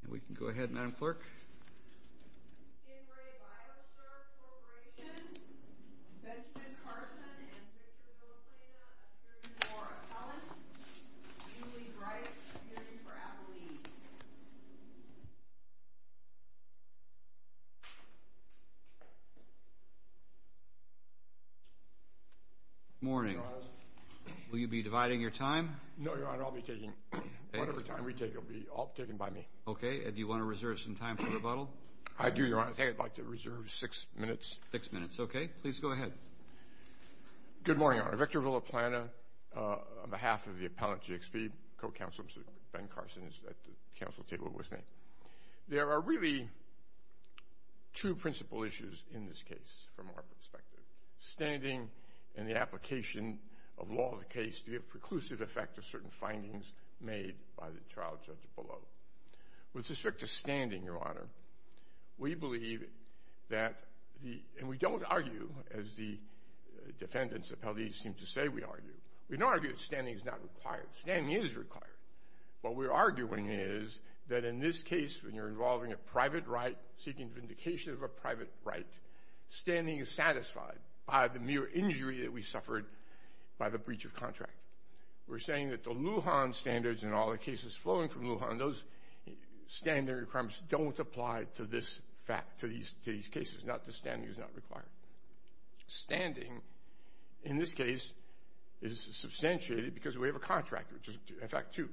Corporation, Benjamin Carson and Victor Villaflena, a series of more appellants, Julie Wright, appearing for appellees. Good morning, Your Honor. Will you be dividing your time? No, Your Honor. I'll be taking whatever time we take. It'll be all taken by me. Okay. And do you want to reserve some time for rebuttal? I do, Your Honor. I think I'd like to reserve six minutes. Six minutes. Okay. Please go ahead. Good morning, Your Honor. Victor Villaflena, on behalf of the appellant GXP, co-counselor Ben Carson is at the council table with me. There are really two principal issues in this case from our perspective. Standing and the application of law of the case to the preclusive effect of certain findings made by the trial judge below. With respect to standing, Your Honor, we believe that the – and we don't argue, as the defendants appellees seem to say we argue. We don't argue that standing is not required. Standing is required. What we're arguing is that in this case, when you're involving a private right, seeking vindication of a private right, standing is satisfied by the mere injury that we suffered by the breach of contract. We're saying that the Lujan standards and all the cases flowing from Lujan, those standard requirements don't apply to this – to these cases. Not that standing is not required. Standing, in this case, is substantiated because we have a contract, which is effect two,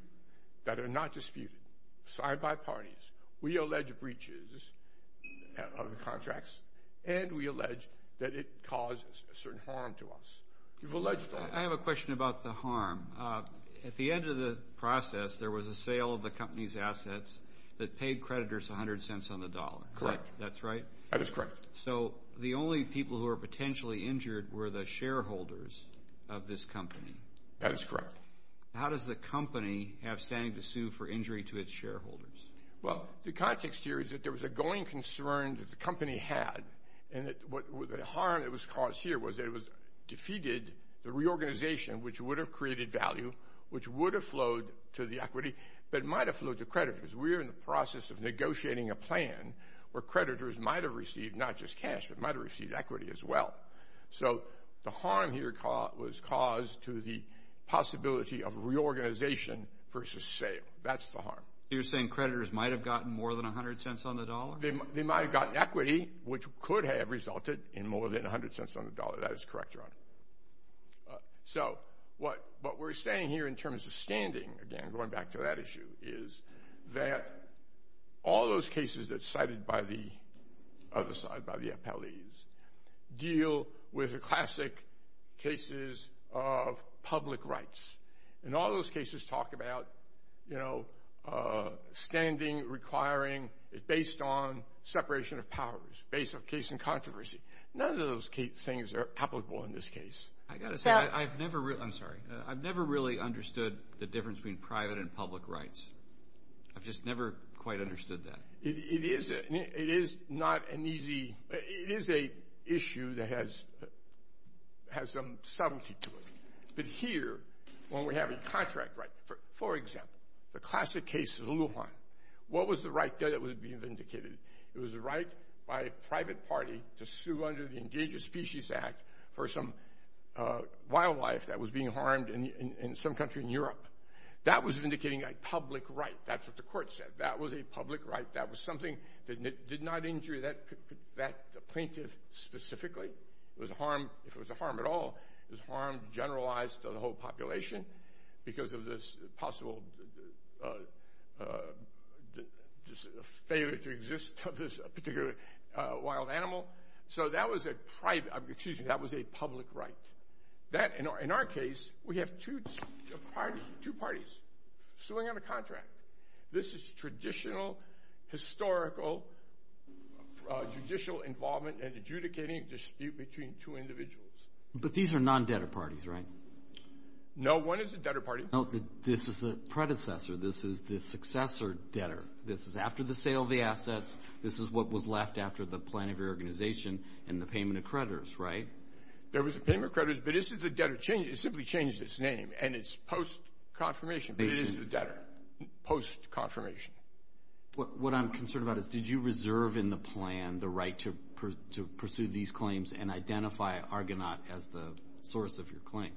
that are not disputed, signed by parties. We allege breaches of the contracts, and we allege that it causes a certain harm to us. You've alleged all that. I have a question about the harm. At the end of the process, there was a sale of the company's assets that paid creditors 100 cents on the dollar. Correct. That's right? That is correct. So the only people who were potentially injured were the shareholders of this company. That is correct. How does the company have standing to sue for injury to its shareholders? Well, the context here is that there was a going concern that the company had, and the harm that was caused here was that it defeated the reorganization, which would have created value, which would have flowed to the equity, but it might have flowed to creditors. We are in the process of negotiating a plan where creditors might have received not just cash, but might have received equity as well. So the harm here was caused to the possibility of reorganization versus sale. That's the harm. You're saying creditors might have gotten more than 100 cents on the dollar? They might have gotten equity, which could have resulted in more than 100 cents on the dollar. That is correct, Your Honor. So what we're saying here in terms of standing, again, going back to that issue, is that all those cases that's cited by the other side, by the appellees, deal with the classic cases of public rights. And all those cases talk about, you know, standing, requiring, based on separation of powers, based on case and controversy. None of those things are applicable in this case. I've got to say, I've never really understood the difference between private and public rights. I've just never quite understood that. It is an issue that has some subtlety to it. But here, when we have a contract right, for example, the classic case of the Lujan, what was the right that was being vindicated? It was the right by a private party to sue under the Endangered Species Act for some wildlife that was being harmed in some country in Europe. That was vindicating a public right. That's what the court said. That was a public right. That was something that did not injure the plaintiff specifically. If it was a harm at all, it was a harm generalized to the whole population because of this possible failure to exist of this particular wild animal. So that was a public right. In our case, we have two parties suing on a contract. This is traditional, historical, judicial involvement and adjudicating dispute between two individuals. But these are non-debtor parties, right? No, one is a debtor party. This is a predecessor. This is the successor debtor. This is after the sale of the assets. This is what was left after the plan of your organization and the payment of creditors, right? There was a payment of creditors, but this is a debtor. It simply changed its name, and it's post-confirmation, but it is a debtor, post-confirmation. What I'm concerned about is did you reserve in the plan the right to pursue these claims and identify Argonaut as the source of your claim?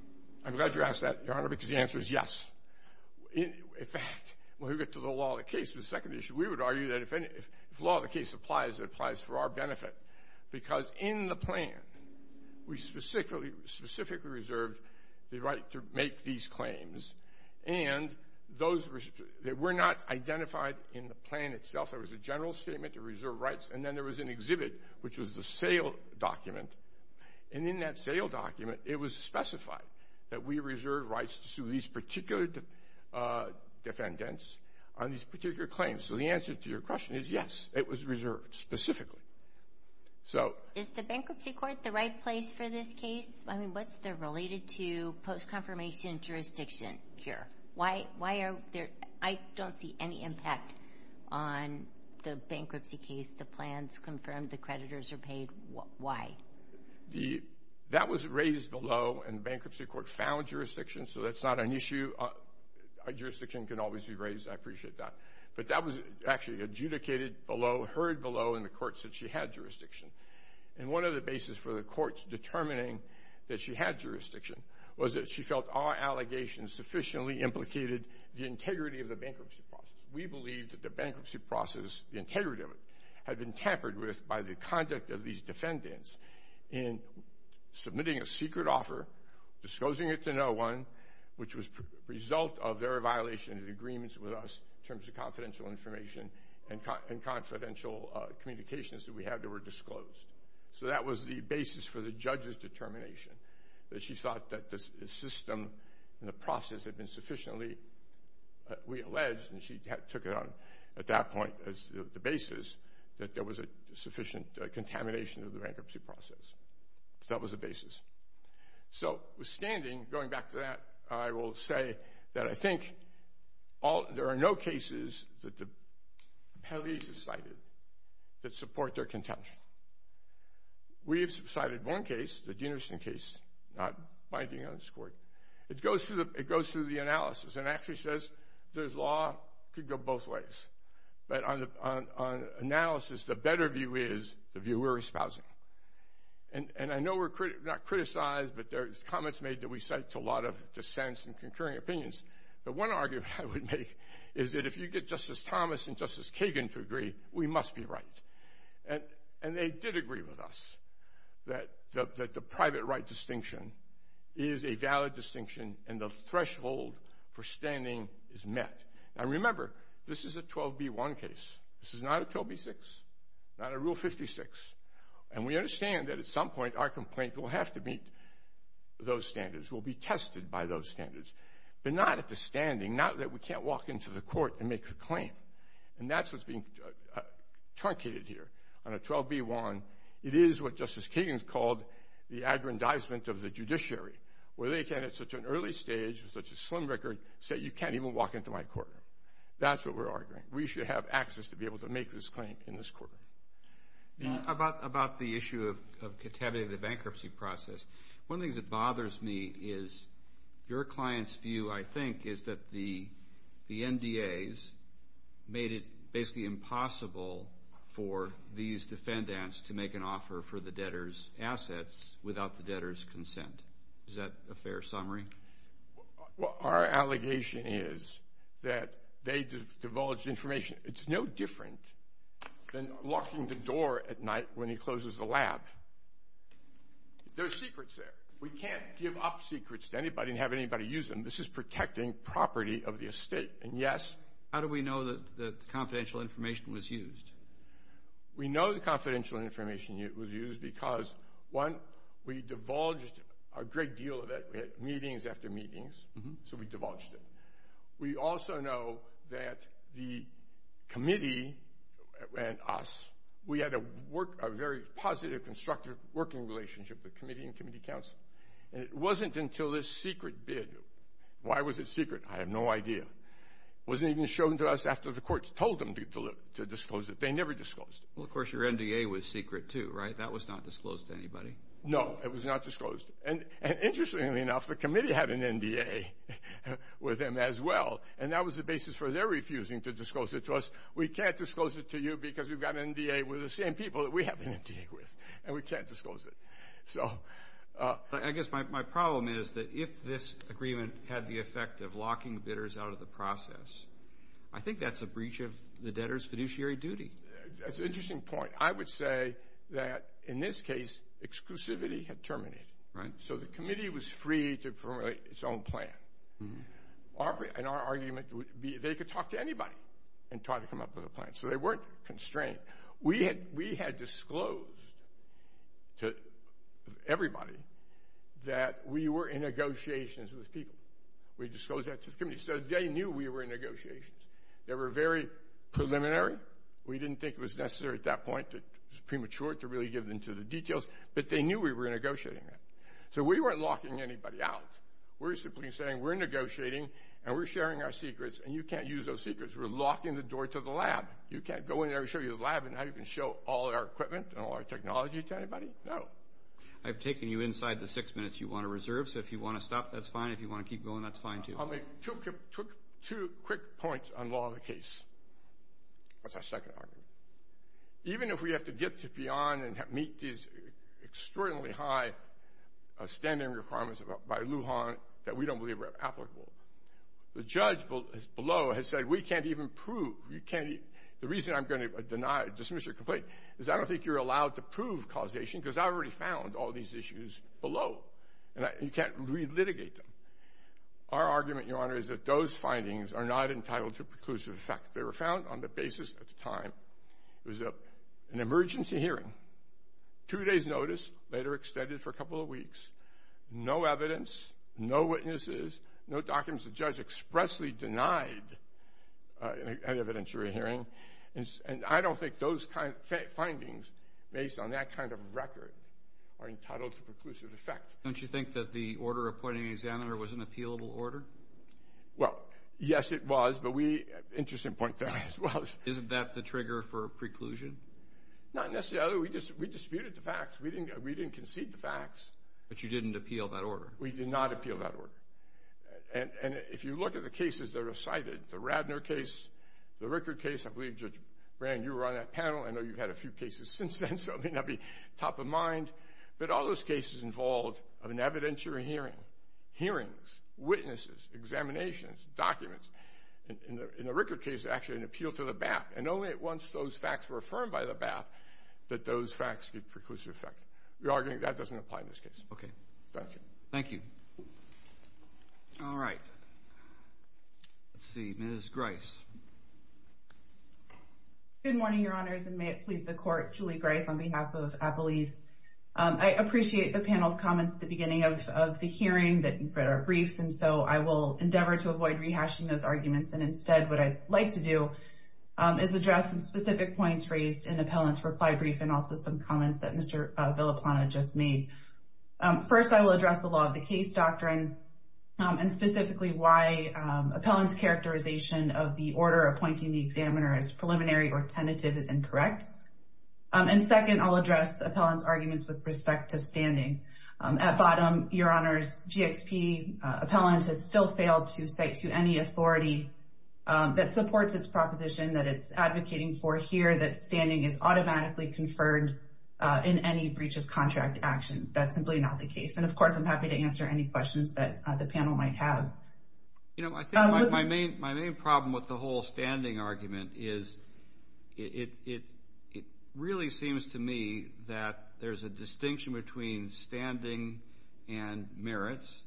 I'm glad you asked that, Your Honor, because the answer is yes. In fact, when we get to the law of the case, the second issue, we would argue that if law of the case applies, it applies for our benefit because in the plan, we specifically reserved the right to make these claims, and those were not identified in the plan itself. There was a general statement to reserve rights, and then there was an exhibit, which was the sale document, and in that sale document, it was specified that we reserve rights to sue these particular defendants on these particular claims. So the answer to your question is yes, it was reserved specifically. Is the bankruptcy court the right place for this case? I mean, what's related to post-confirmation jurisdiction here? I don't see any impact on the bankruptcy case. The plan's confirmed. The creditors are paid. Why? That was raised below, and the bankruptcy court found jurisdiction, so that's not an issue. Our jurisdiction can always be raised. I appreciate that. But that was actually adjudicated below, heard below, and the court said she had jurisdiction. And one of the bases for the courts determining that she had jurisdiction was that she felt our allegations sufficiently implicated the integrity of the bankruptcy process. We believed that the bankruptcy process, the integrity of it, had been tampered with by the conduct of these defendants in submitting a secret offer, disclosing it to no one, which was a result of their violation of agreements with us in terms of confidential information and confidential communications that we had that were disclosed. So that was the basis for the judge's determination, that she thought that the system and the process had been sufficiently, we alleged, and she took it on at that point as the basis, that there was a sufficient contamination of the bankruptcy process. So that was the basis. So, withstanding, going back to that, I will say that I think there are no cases that the penalties are cited that support their contention. We have cited one case, the Deanderson case, not binding on this court. It goes through the analysis and actually says this law could go both ways. But on analysis, the better view is the view we're espousing. And I know we're not criticized, but there's comments made that we cite to a lot of dissents and concurring opinions. But one argument I would make is that if you get Justice Thomas and Justice Kagan to agree, we must be right. And they did agree with us that the private right distinction is a valid distinction and the threshold for standing is met. Now, remember, this is a 12b1 case. This is not a 12b6, not a Rule 56. And we understand that at some point our complaint will have to meet those standards, will be tested by those standards, but not at the standing, not that we can't walk into the court and make a claim. And that's what's being truncated here on a 12b1. It is what Justice Kagan has called the aggrandizement of the judiciary, where they can, at such an early stage with such a slim record, say you can't even walk into my court. That's what we're arguing. We should have access to be able to make this claim in this court. About the issue of contaminating the bankruptcy process, one of the things that bothers me is your client's view, I think, is that the NDAs made it basically impossible for these defendants to make an offer for the debtors' assets without the debtors' consent. Is that a fair summary? Well, our allegation is that they divulged information. It's no different than locking the door at night when he closes the lab. There are secrets there. We can't give up secrets to anybody and have anybody use them. This is protecting property of the estate. And, yes. How do we know that the confidential information was used? We know the confidential information was used because, one, we divulged a great deal of it. We had meetings after meetings, so we divulged it. We also know that the committee and us, we had a very positive, constructive working relationship, the committee and committee counsel. And it wasn't until this secret bid. Why was it secret? I have no idea. It wasn't even shown to us after the courts told them to disclose it. They never disclosed it. Well, of course, your NDA was secret, too, right? That was not disclosed to anybody. No, it was not disclosed. And, interestingly enough, the committee had an NDA with them as well, and that was the basis for their refusing to disclose it to us. We can't disclose it to you because we've got an NDA with the same people that we have an NDA with, and we can't disclose it. I guess my problem is that if this agreement had the effect of locking bidders out of the process, I think that's a breach of the debtor's fiduciary duty. That's an interesting point. I would say that, in this case, exclusivity had terminated, so the committee was free to formulate its own plan. And our argument would be they could talk to anybody and try to come up with a plan, so they weren't constrained. We had disclosed to everybody that we were in negotiations with people. We disclosed that to the committee, so they knew we were in negotiations. They were very preliminary. We didn't think it was necessary at that point, premature, to really get into the details, but they knew we were negotiating that. So we weren't locking anybody out. We're simply saying we're negotiating and we're sharing our secrets, and you can't use those secrets. We're locking the door to the lab. You can't go in there and show you the lab and now you can show all our equipment and all our technology to anybody. No. I've taken you inside the six minutes you want to reserve, so if you want to stop, that's fine. If you want to keep going, that's fine, too. I'll make two quick points on law of the case. That's our second argument. Even if we have to get to beyond and meet these extraordinarily high standard requirements by Lujan that we don't believe are applicable, the judge below has said we can't even prove, the reason I'm going to deny, dismiss your complaint, is I don't think you're allowed to prove causation because I've already found all these issues below, and you can't re-litigate them. Our argument, Your Honor, is that those findings are not entitled to preclusive effect. They were found on the basis at the time it was an emergency hearing, two days' notice, later extended for a couple of weeks, no evidence, no witnesses, no documents. The judge expressly denied any evidence during the hearing, and I don't think those findings, based on that kind of record, are entitled to preclusive effect. Don't you think that the order appointing an examiner was an appealable order? Well, yes, it was, but we, interesting point there, it was. Isn't that the trigger for preclusion? Not necessarily. We disputed the facts. We didn't concede the facts. But you didn't appeal that order. We did not appeal that order. And if you look at the cases that are cited, the Radner case, the Rickard case, I believe, Judge Brand, you were on that panel. I know you've had a few cases since then, so that may not be top of mind. But all those cases involved an evidentiary hearing, hearings, witnesses, examinations, documents. In the Rickard case, actually, an appeal to the BAP, and only once those facts were affirmed by the BAP that those facts get preclusive effect. We argue that doesn't apply in this case. Okay. Thank you. All right. Let's see. Ms. Grice. Good morning, Your Honors, and may it please the Court, Julie Grice on behalf of Appalese. I appreciate the panel's comments at the beginning of the hearing that are briefs, and so I will endeavor to avoid rehashing those arguments, and instead what I'd like to do is address some specific points raised in the appellant's reply brief and also some comments that Mr. Villaplana just made. First, I will address the law of the case doctrine and specifically why appellant's characterization of the order appointing the examiner as preliminary or tentative is incorrect. And second, I'll address appellant's arguments with respect to standing. At bottom, Your Honors, GXP appellant has still failed to cite to any authority that supports its proposition that it's advocating for here that standing is automatically conferred in any breach of contract action. That's simply not the case. And, of course, I'm happy to answer any questions that the panel might have. You know, I think my main problem with the whole standing argument is it really seems to me that there's a distinction between standing and merits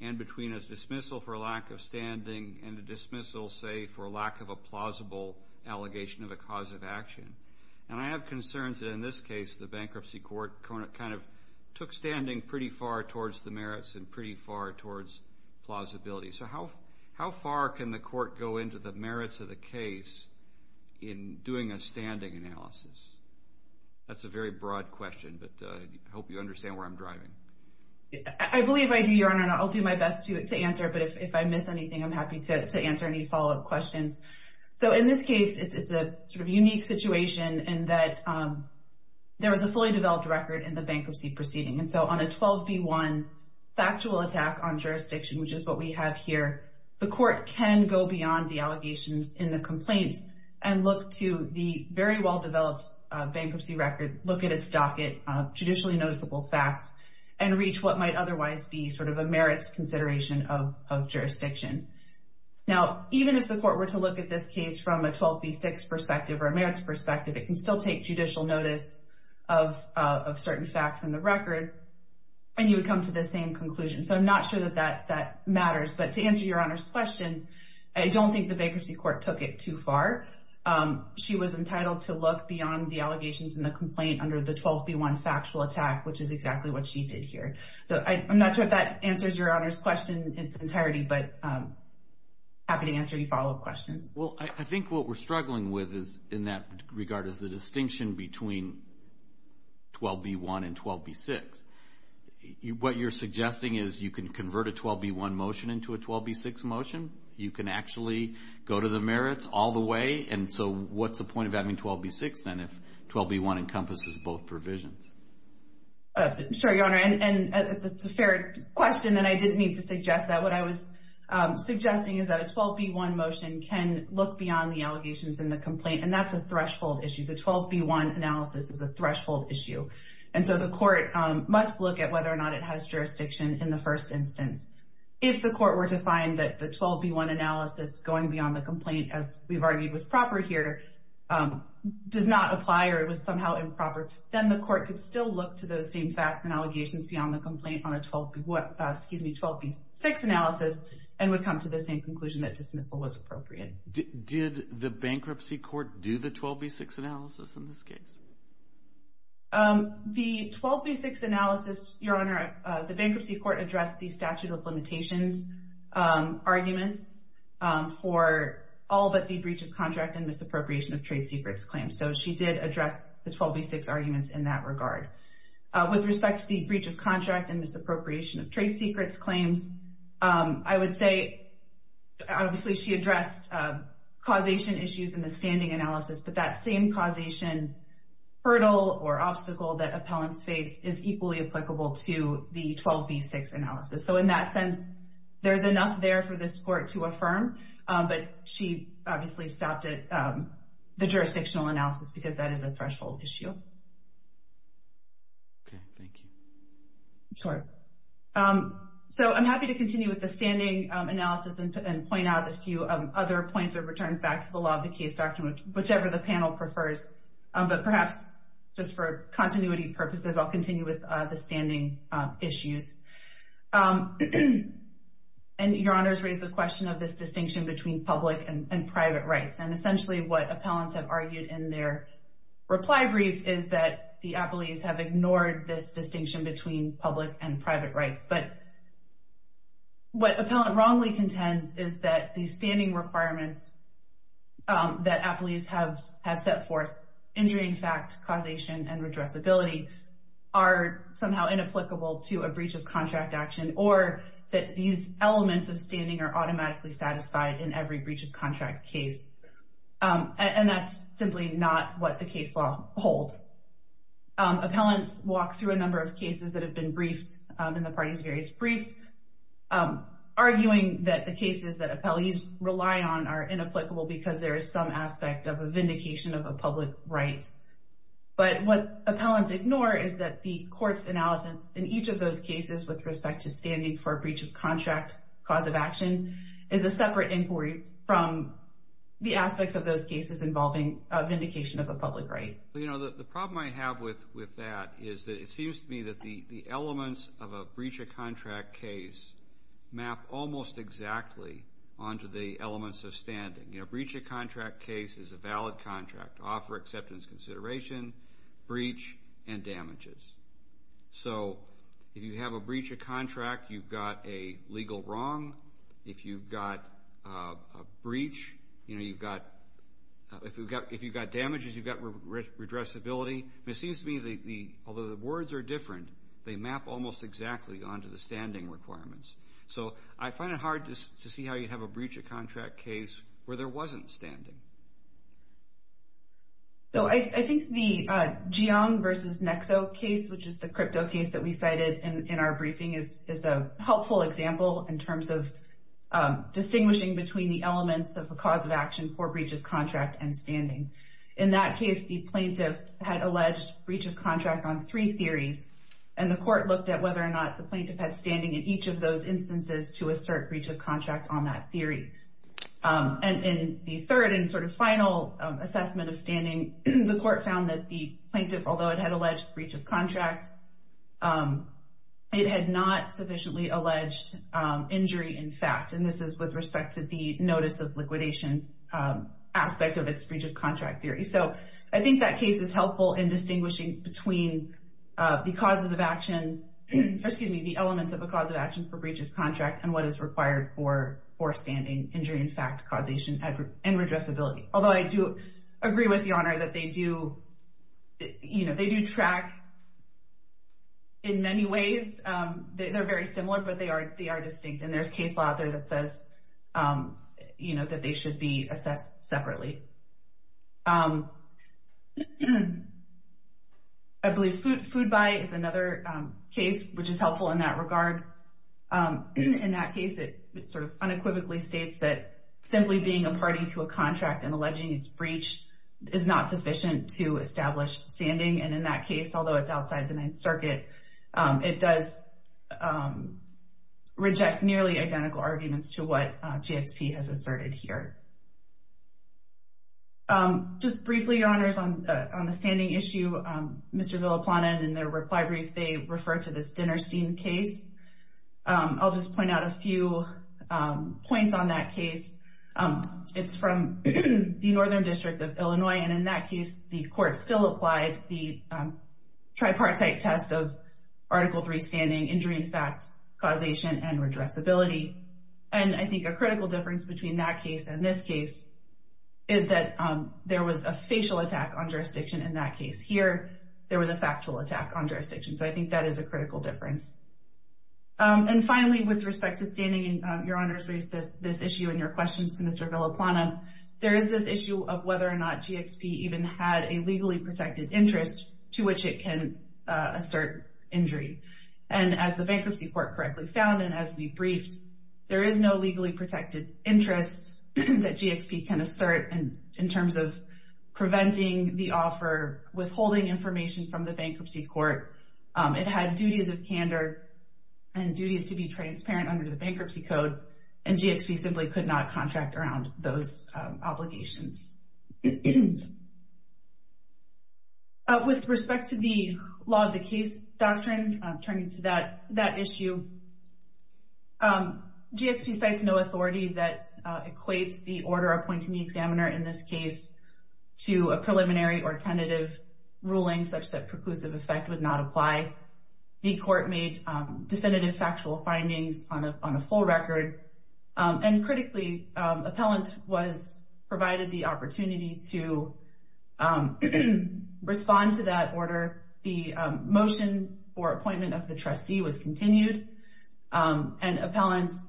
and between a dismissal for lack of standing and a dismissal, say, for lack of a plausible allegation of a cause of action. And I have concerns that in this case the bankruptcy court kind of took standing pretty far towards the merits and pretty far towards plausibility. So how far can the court go into the merits of the case in doing a standing analysis? That's a very broad question, but I hope you understand where I'm driving. I believe I do, Your Honor, and I'll do my best to answer. But if I miss anything, I'm happy to answer any follow-up questions. So in this case, it's a sort of unique situation in that there was a fully developed record in the bankruptcy proceeding. And so on a 12B1 factual attack on jurisdiction, which is what we have here, the court can go beyond the allegations in the complaint and look to the very well-developed bankruptcy record, look at its docket of judicially noticeable facts, and reach what might otherwise be sort of a merits consideration of jurisdiction. Now, even if the court were to look at this case from a 12B6 perspective or a merits perspective, it can still take judicial notice of certain facts in the record, and you would come to the same conclusion. So I'm not sure that that matters. But to answer Your Honor's question, I don't think the bankruptcy court took it too far. She was entitled to look beyond the allegations in the complaint under the 12B1 factual attack, which is exactly what she did here. So I'm not sure if that answers Your Honor's question in its entirety, but I'm happy to answer any follow-up questions. Well, I think what we're struggling with in that regard is the distinction between 12B1 and 12B6. What you're suggesting is you can convert a 12B1 motion into a 12B6 motion. You can actually go to the merits all the way. And so what's the point of having 12B6 then if 12B1 encompasses both provisions? Sure, Your Honor. And it's a fair question, and I didn't mean to suggest that. What I was suggesting is that a 12B1 motion can look beyond the allegations in the complaint, and that's a threshold issue. The 12B1 analysis is a threshold issue. And so the court must look at whether or not it has jurisdiction in the first instance. If the court were to find that the 12B1 analysis going beyond the complaint, as we've argued was proper here, does not apply or it was somehow improper, then the court could still look to those same facts and allegations beyond the complaint on a 12B6 analysis and would come to the same conclusion that dismissal was appropriate. Did the bankruptcy court do the 12B6 analysis in this case? The 12B6 analysis, Your Honor, the bankruptcy court addressed the statute of limitations arguments for all but the breach of contract and misappropriation of trade secrets claims. So she did address the 12B6 arguments in that regard. With respect to the breach of contract and misappropriation of trade secrets claims, I would say obviously she addressed causation issues in the standing analysis, but that same causation hurdle or obstacle that appellants face is equally applicable to the 12B6 analysis. So in that sense, there's enough there for this court to affirm, but she obviously stopped at the jurisdictional analysis because that is a threshold issue. Okay. Thank you. Sure. So I'm happy to continue with the standing analysis and point out a few other points or return back to the law of the case document, whichever the panel prefers. But perhaps just for continuity purposes, I'll continue with the standing issues. And Your Honors raised the question of this distinction between public and private rights, and essentially what appellants have argued in their reply brief is that the appellees have ignored this distinction between public and private rights. But what appellant wrongly contends is that the standing requirements that appellees have set forth, injuring fact, causation, and redressability are somehow inapplicable to a breach of contract action or that these elements of standing are automatically satisfied in every breach of contract case. And that's simply not what the case law holds. Appellants walk through a number of cases that have been briefed in the party's various briefs, arguing that the cases that appellees rely on are inapplicable because there is some aspect of a vindication of a public right. But what appellants ignore is that the court's analysis in each of those cases with respect to standing for a breach of contract cause of action is a separate inquiry from the aspects of those cases involving a vindication of a public right. Well, you know, the problem I have with that is that it seems to me that the elements of a breach of contract case map almost exactly onto the elements of standing. You know, a breach of contract case is a valid contract to offer acceptance, consideration, breach, and damages. So if you have a breach of contract, you've got a legal wrong. If you've got a breach, you know, if you've got damages, you've got redressability. And it seems to me, although the words are different, they map almost exactly onto the standing requirements. So I find it hard to see how you'd have a breach of contract case where there wasn't standing. So I think the Jiang versus Nexo case, which is the crypto case that we cited in our briefing, is a helpful example in terms of distinguishing between the elements of a cause of action for breach of contract and standing. In that case, the plaintiff had alleged breach of contract on three theories, and the court looked at whether or not the plaintiff had standing in each of those instances to assert breach of contract on that theory. And in the third and sort of final assessment of standing, the court found that the plaintiff, although it had alleged breach of contract, it had not sufficiently alleged injury in fact. And this is with respect to the notice of liquidation aspect of its breach of contract theory. So I think that case is helpful in distinguishing between the causes of action, excuse me, the elements of a cause of action for breach of contract and what is required for standing, injury in fact, causation, and redressability. Although I do agree with Your Honor that they do track in many ways. They're very similar, but they are distinct. And there's case law out there that says that they should be assessed separately. I believe food buy is another case which is helpful in that regard. In that case, it sort of unequivocally states that simply being a party to a contract and alleging its breach is not sufficient to establish standing. And in that case, although it's outside the Ninth Circuit, it does reject nearly identical arguments to what GXP has asserted here. Just briefly, Your Honors, on the standing issue, Mr. Villaplana, in their reply brief, they refer to this Dinnerstein case. I'll just point out a few points on that case. It's from the Northern District of Illinois. And in that case, the court still applied the tripartite test of Article III standing, injury in fact, causation, and redressability. And I think a critical difference between that case and this case is that there was a facial attack on jurisdiction in that case. Here, there was a factual attack on jurisdiction. So I think that is a critical difference. And finally, with respect to standing, Your Honors raised this issue in your questions to Mr. Villaplana. There is this issue of whether or not GXP even had a legally protected interest to which it can assert injury. And as the Bankruptcy Court correctly found and as we briefed, there is no legally protected interest that GXP can assert in terms of preventing the offer, withholding information from the Bankruptcy Court. It had duties of candor and duties to be transparent under the Bankruptcy Code, and GXP simply could not contract around those obligations. With respect to the Law of the Case Doctrine, turning to that issue, GXP cites no authority that equates the order appointing the examiner in this case to a preliminary or tentative ruling such that preclusive effect would not apply. The Court made definitive factual findings on a full record, and critically, appellant was provided the opportunity to respond to that order. The motion for appointment of the trustee was continued, and appellants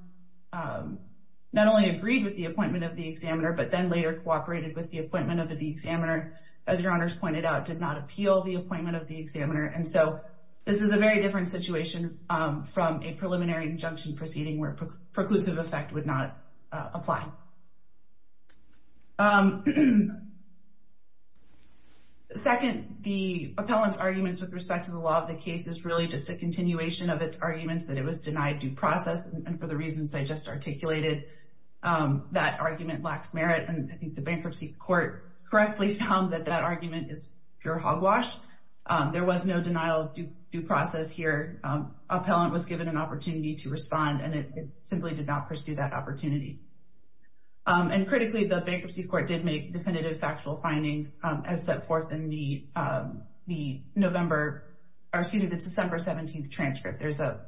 not only agreed with the appointment of the examiner, but then later cooperated with the appointment of the examiner. As Your Honors pointed out, did not appeal the appointment of the examiner, and so this is a very different situation from a preliminary injunction proceeding where preclusive effect would not apply. Second, the appellant's arguments with respect to the Law of the Case is really just a continuation of its arguments that it was denied due process, and for the reasons I just articulated, that argument lacks merit, and I think the Bankruptcy Court correctly found that that argument is pure hogwash. There was no denial of due process here. Appellant was given an opportunity to respond, and it simply did not pursue that opportunity. And critically, the Bankruptcy Court did make definitive factual findings as set forth in the December 17th transcript. There's a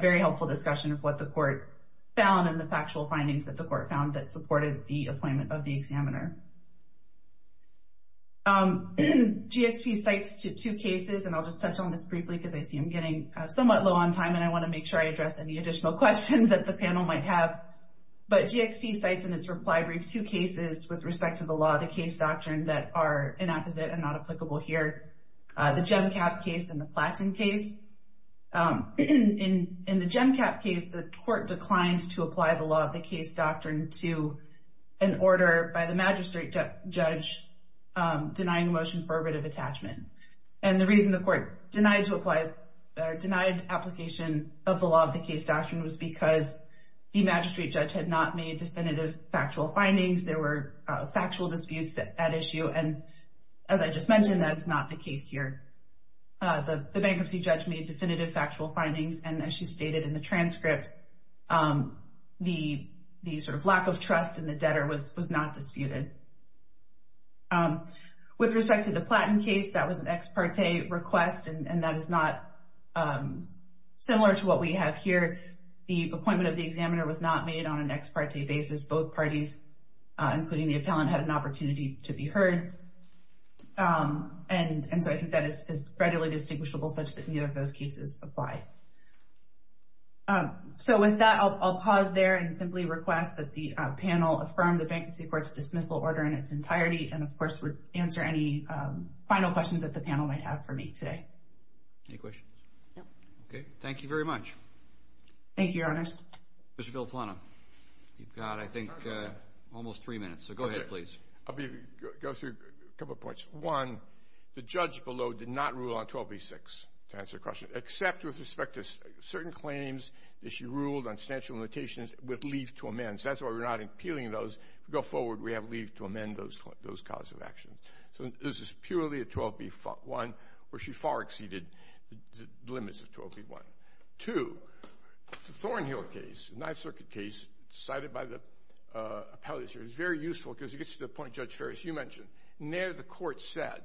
very helpful discussion of what the Court found and the factual findings that the Court found that supported the appointment of the examiner. GXP cites two cases, and I'll just touch on this briefly because I see I'm getting somewhat low on time, and I want to make sure I address any additional questions that the panel might have, but GXP cites in its reply brief two cases with respect to the Law of the Case Doctrine that are inapposite and not applicable here, the GemCap case and the Platten case. In the GemCap case, the Court declined to apply the Law of the Case Doctrine to an order by the magistrate judge denying a motion for a writ of attachment, and the reason the Court denied application of the Law of the Case Doctrine was because the magistrate judge had not made definitive factual findings. There were factual disputes at issue, and as I just mentioned, that is not the case here. The bankruptcy judge made definitive factual findings, and as she stated in the transcript, the sort of lack of trust in the debtor was not disputed. With respect to the Platten case, that was an ex parte request, and that is not similar to what we have here. The appointment of the examiner was not made on an ex parte basis. Both parties, including the appellant, had an opportunity to be heard, and so I think that is readily distinguishable such that neither of those cases apply. So with that, I'll pause there and simply request that the panel affirm the Bankruptcy Court's dismissal order in its entirety, and, of course, would answer any final questions that the panel might have for me today. Any questions? No. Okay. Thank you very much. Thank you, Your Honors. Mr. Villaplana, you've got, I think, almost three minutes, so go ahead, please. I'll go through a couple of points. One, the judge below did not rule on 1286 to answer the question, except with respect to certain claims that she ruled on substantial limitations with leave to amend. So that's why we're not appealing those. If we go forward, we have leave to amend those causes of action. So this is purely a 12b-1, where she far exceeded the limits of 12b-1. Two, the Thornhill case, a Ninth Circuit case, cited by the appellate, is very useful because it gets to the point Judge Ferris, you mentioned. In there, the court said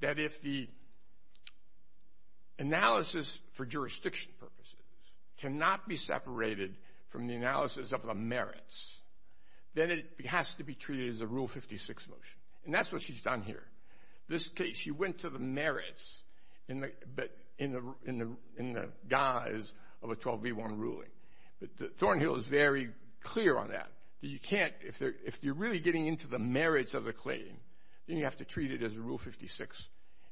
that if the analysis for jurisdiction purposes cannot be separated from the analysis of the merits, then it has to be treated as a Rule 56 motion. And that's what she's done here. In this case, she went to the merits in the guise of a 12b-1 ruling. But Thornhill is very clear on that. You can't, if you're really getting into the merits of the claim, then you have to treat it as a Rule 56.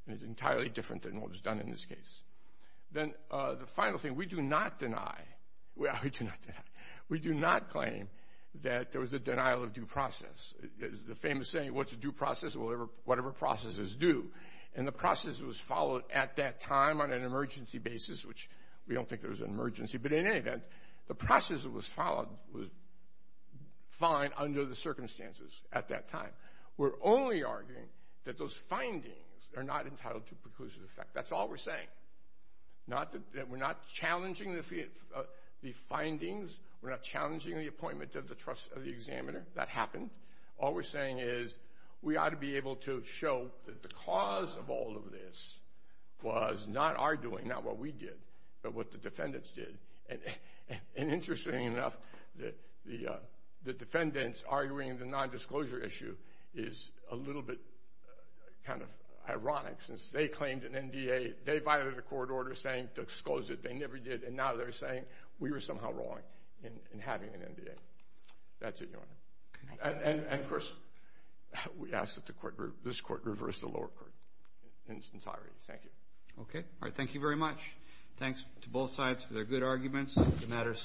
And it's entirely different than what was done in this case. Then the final thing, we do not deny, we do not claim that there was a denial of due process. The famous saying, what's a due process? Whatever process is due. And the process was followed at that time on an emergency basis, which we don't think there was an emergency. But in any event, the process that was followed was fine under the circumstances at that time. We're only arguing that those findings are not entitled to preclusive effect. That's all we're saying. We're not challenging the findings. We're not challenging the appointment of the trust of the examiner. That happened. All we're saying is we ought to be able to show that the cause of all of this was not our doing, not what we did, but what the defendants did. And interestingly enough, the defendants arguing the nondisclosure issue is a little bit kind of ironic, since they claimed an NDA, they violated a court order saying to expose it. They never did. And now they're saying we were somehow wrong in having an NDA. That's it, Your Honor. And, of course, we ask that this court reverse the lower court in its entirety. Thank you. Okay. All right. Thank you very much. The matter is submitted. Thank you, Your Honor.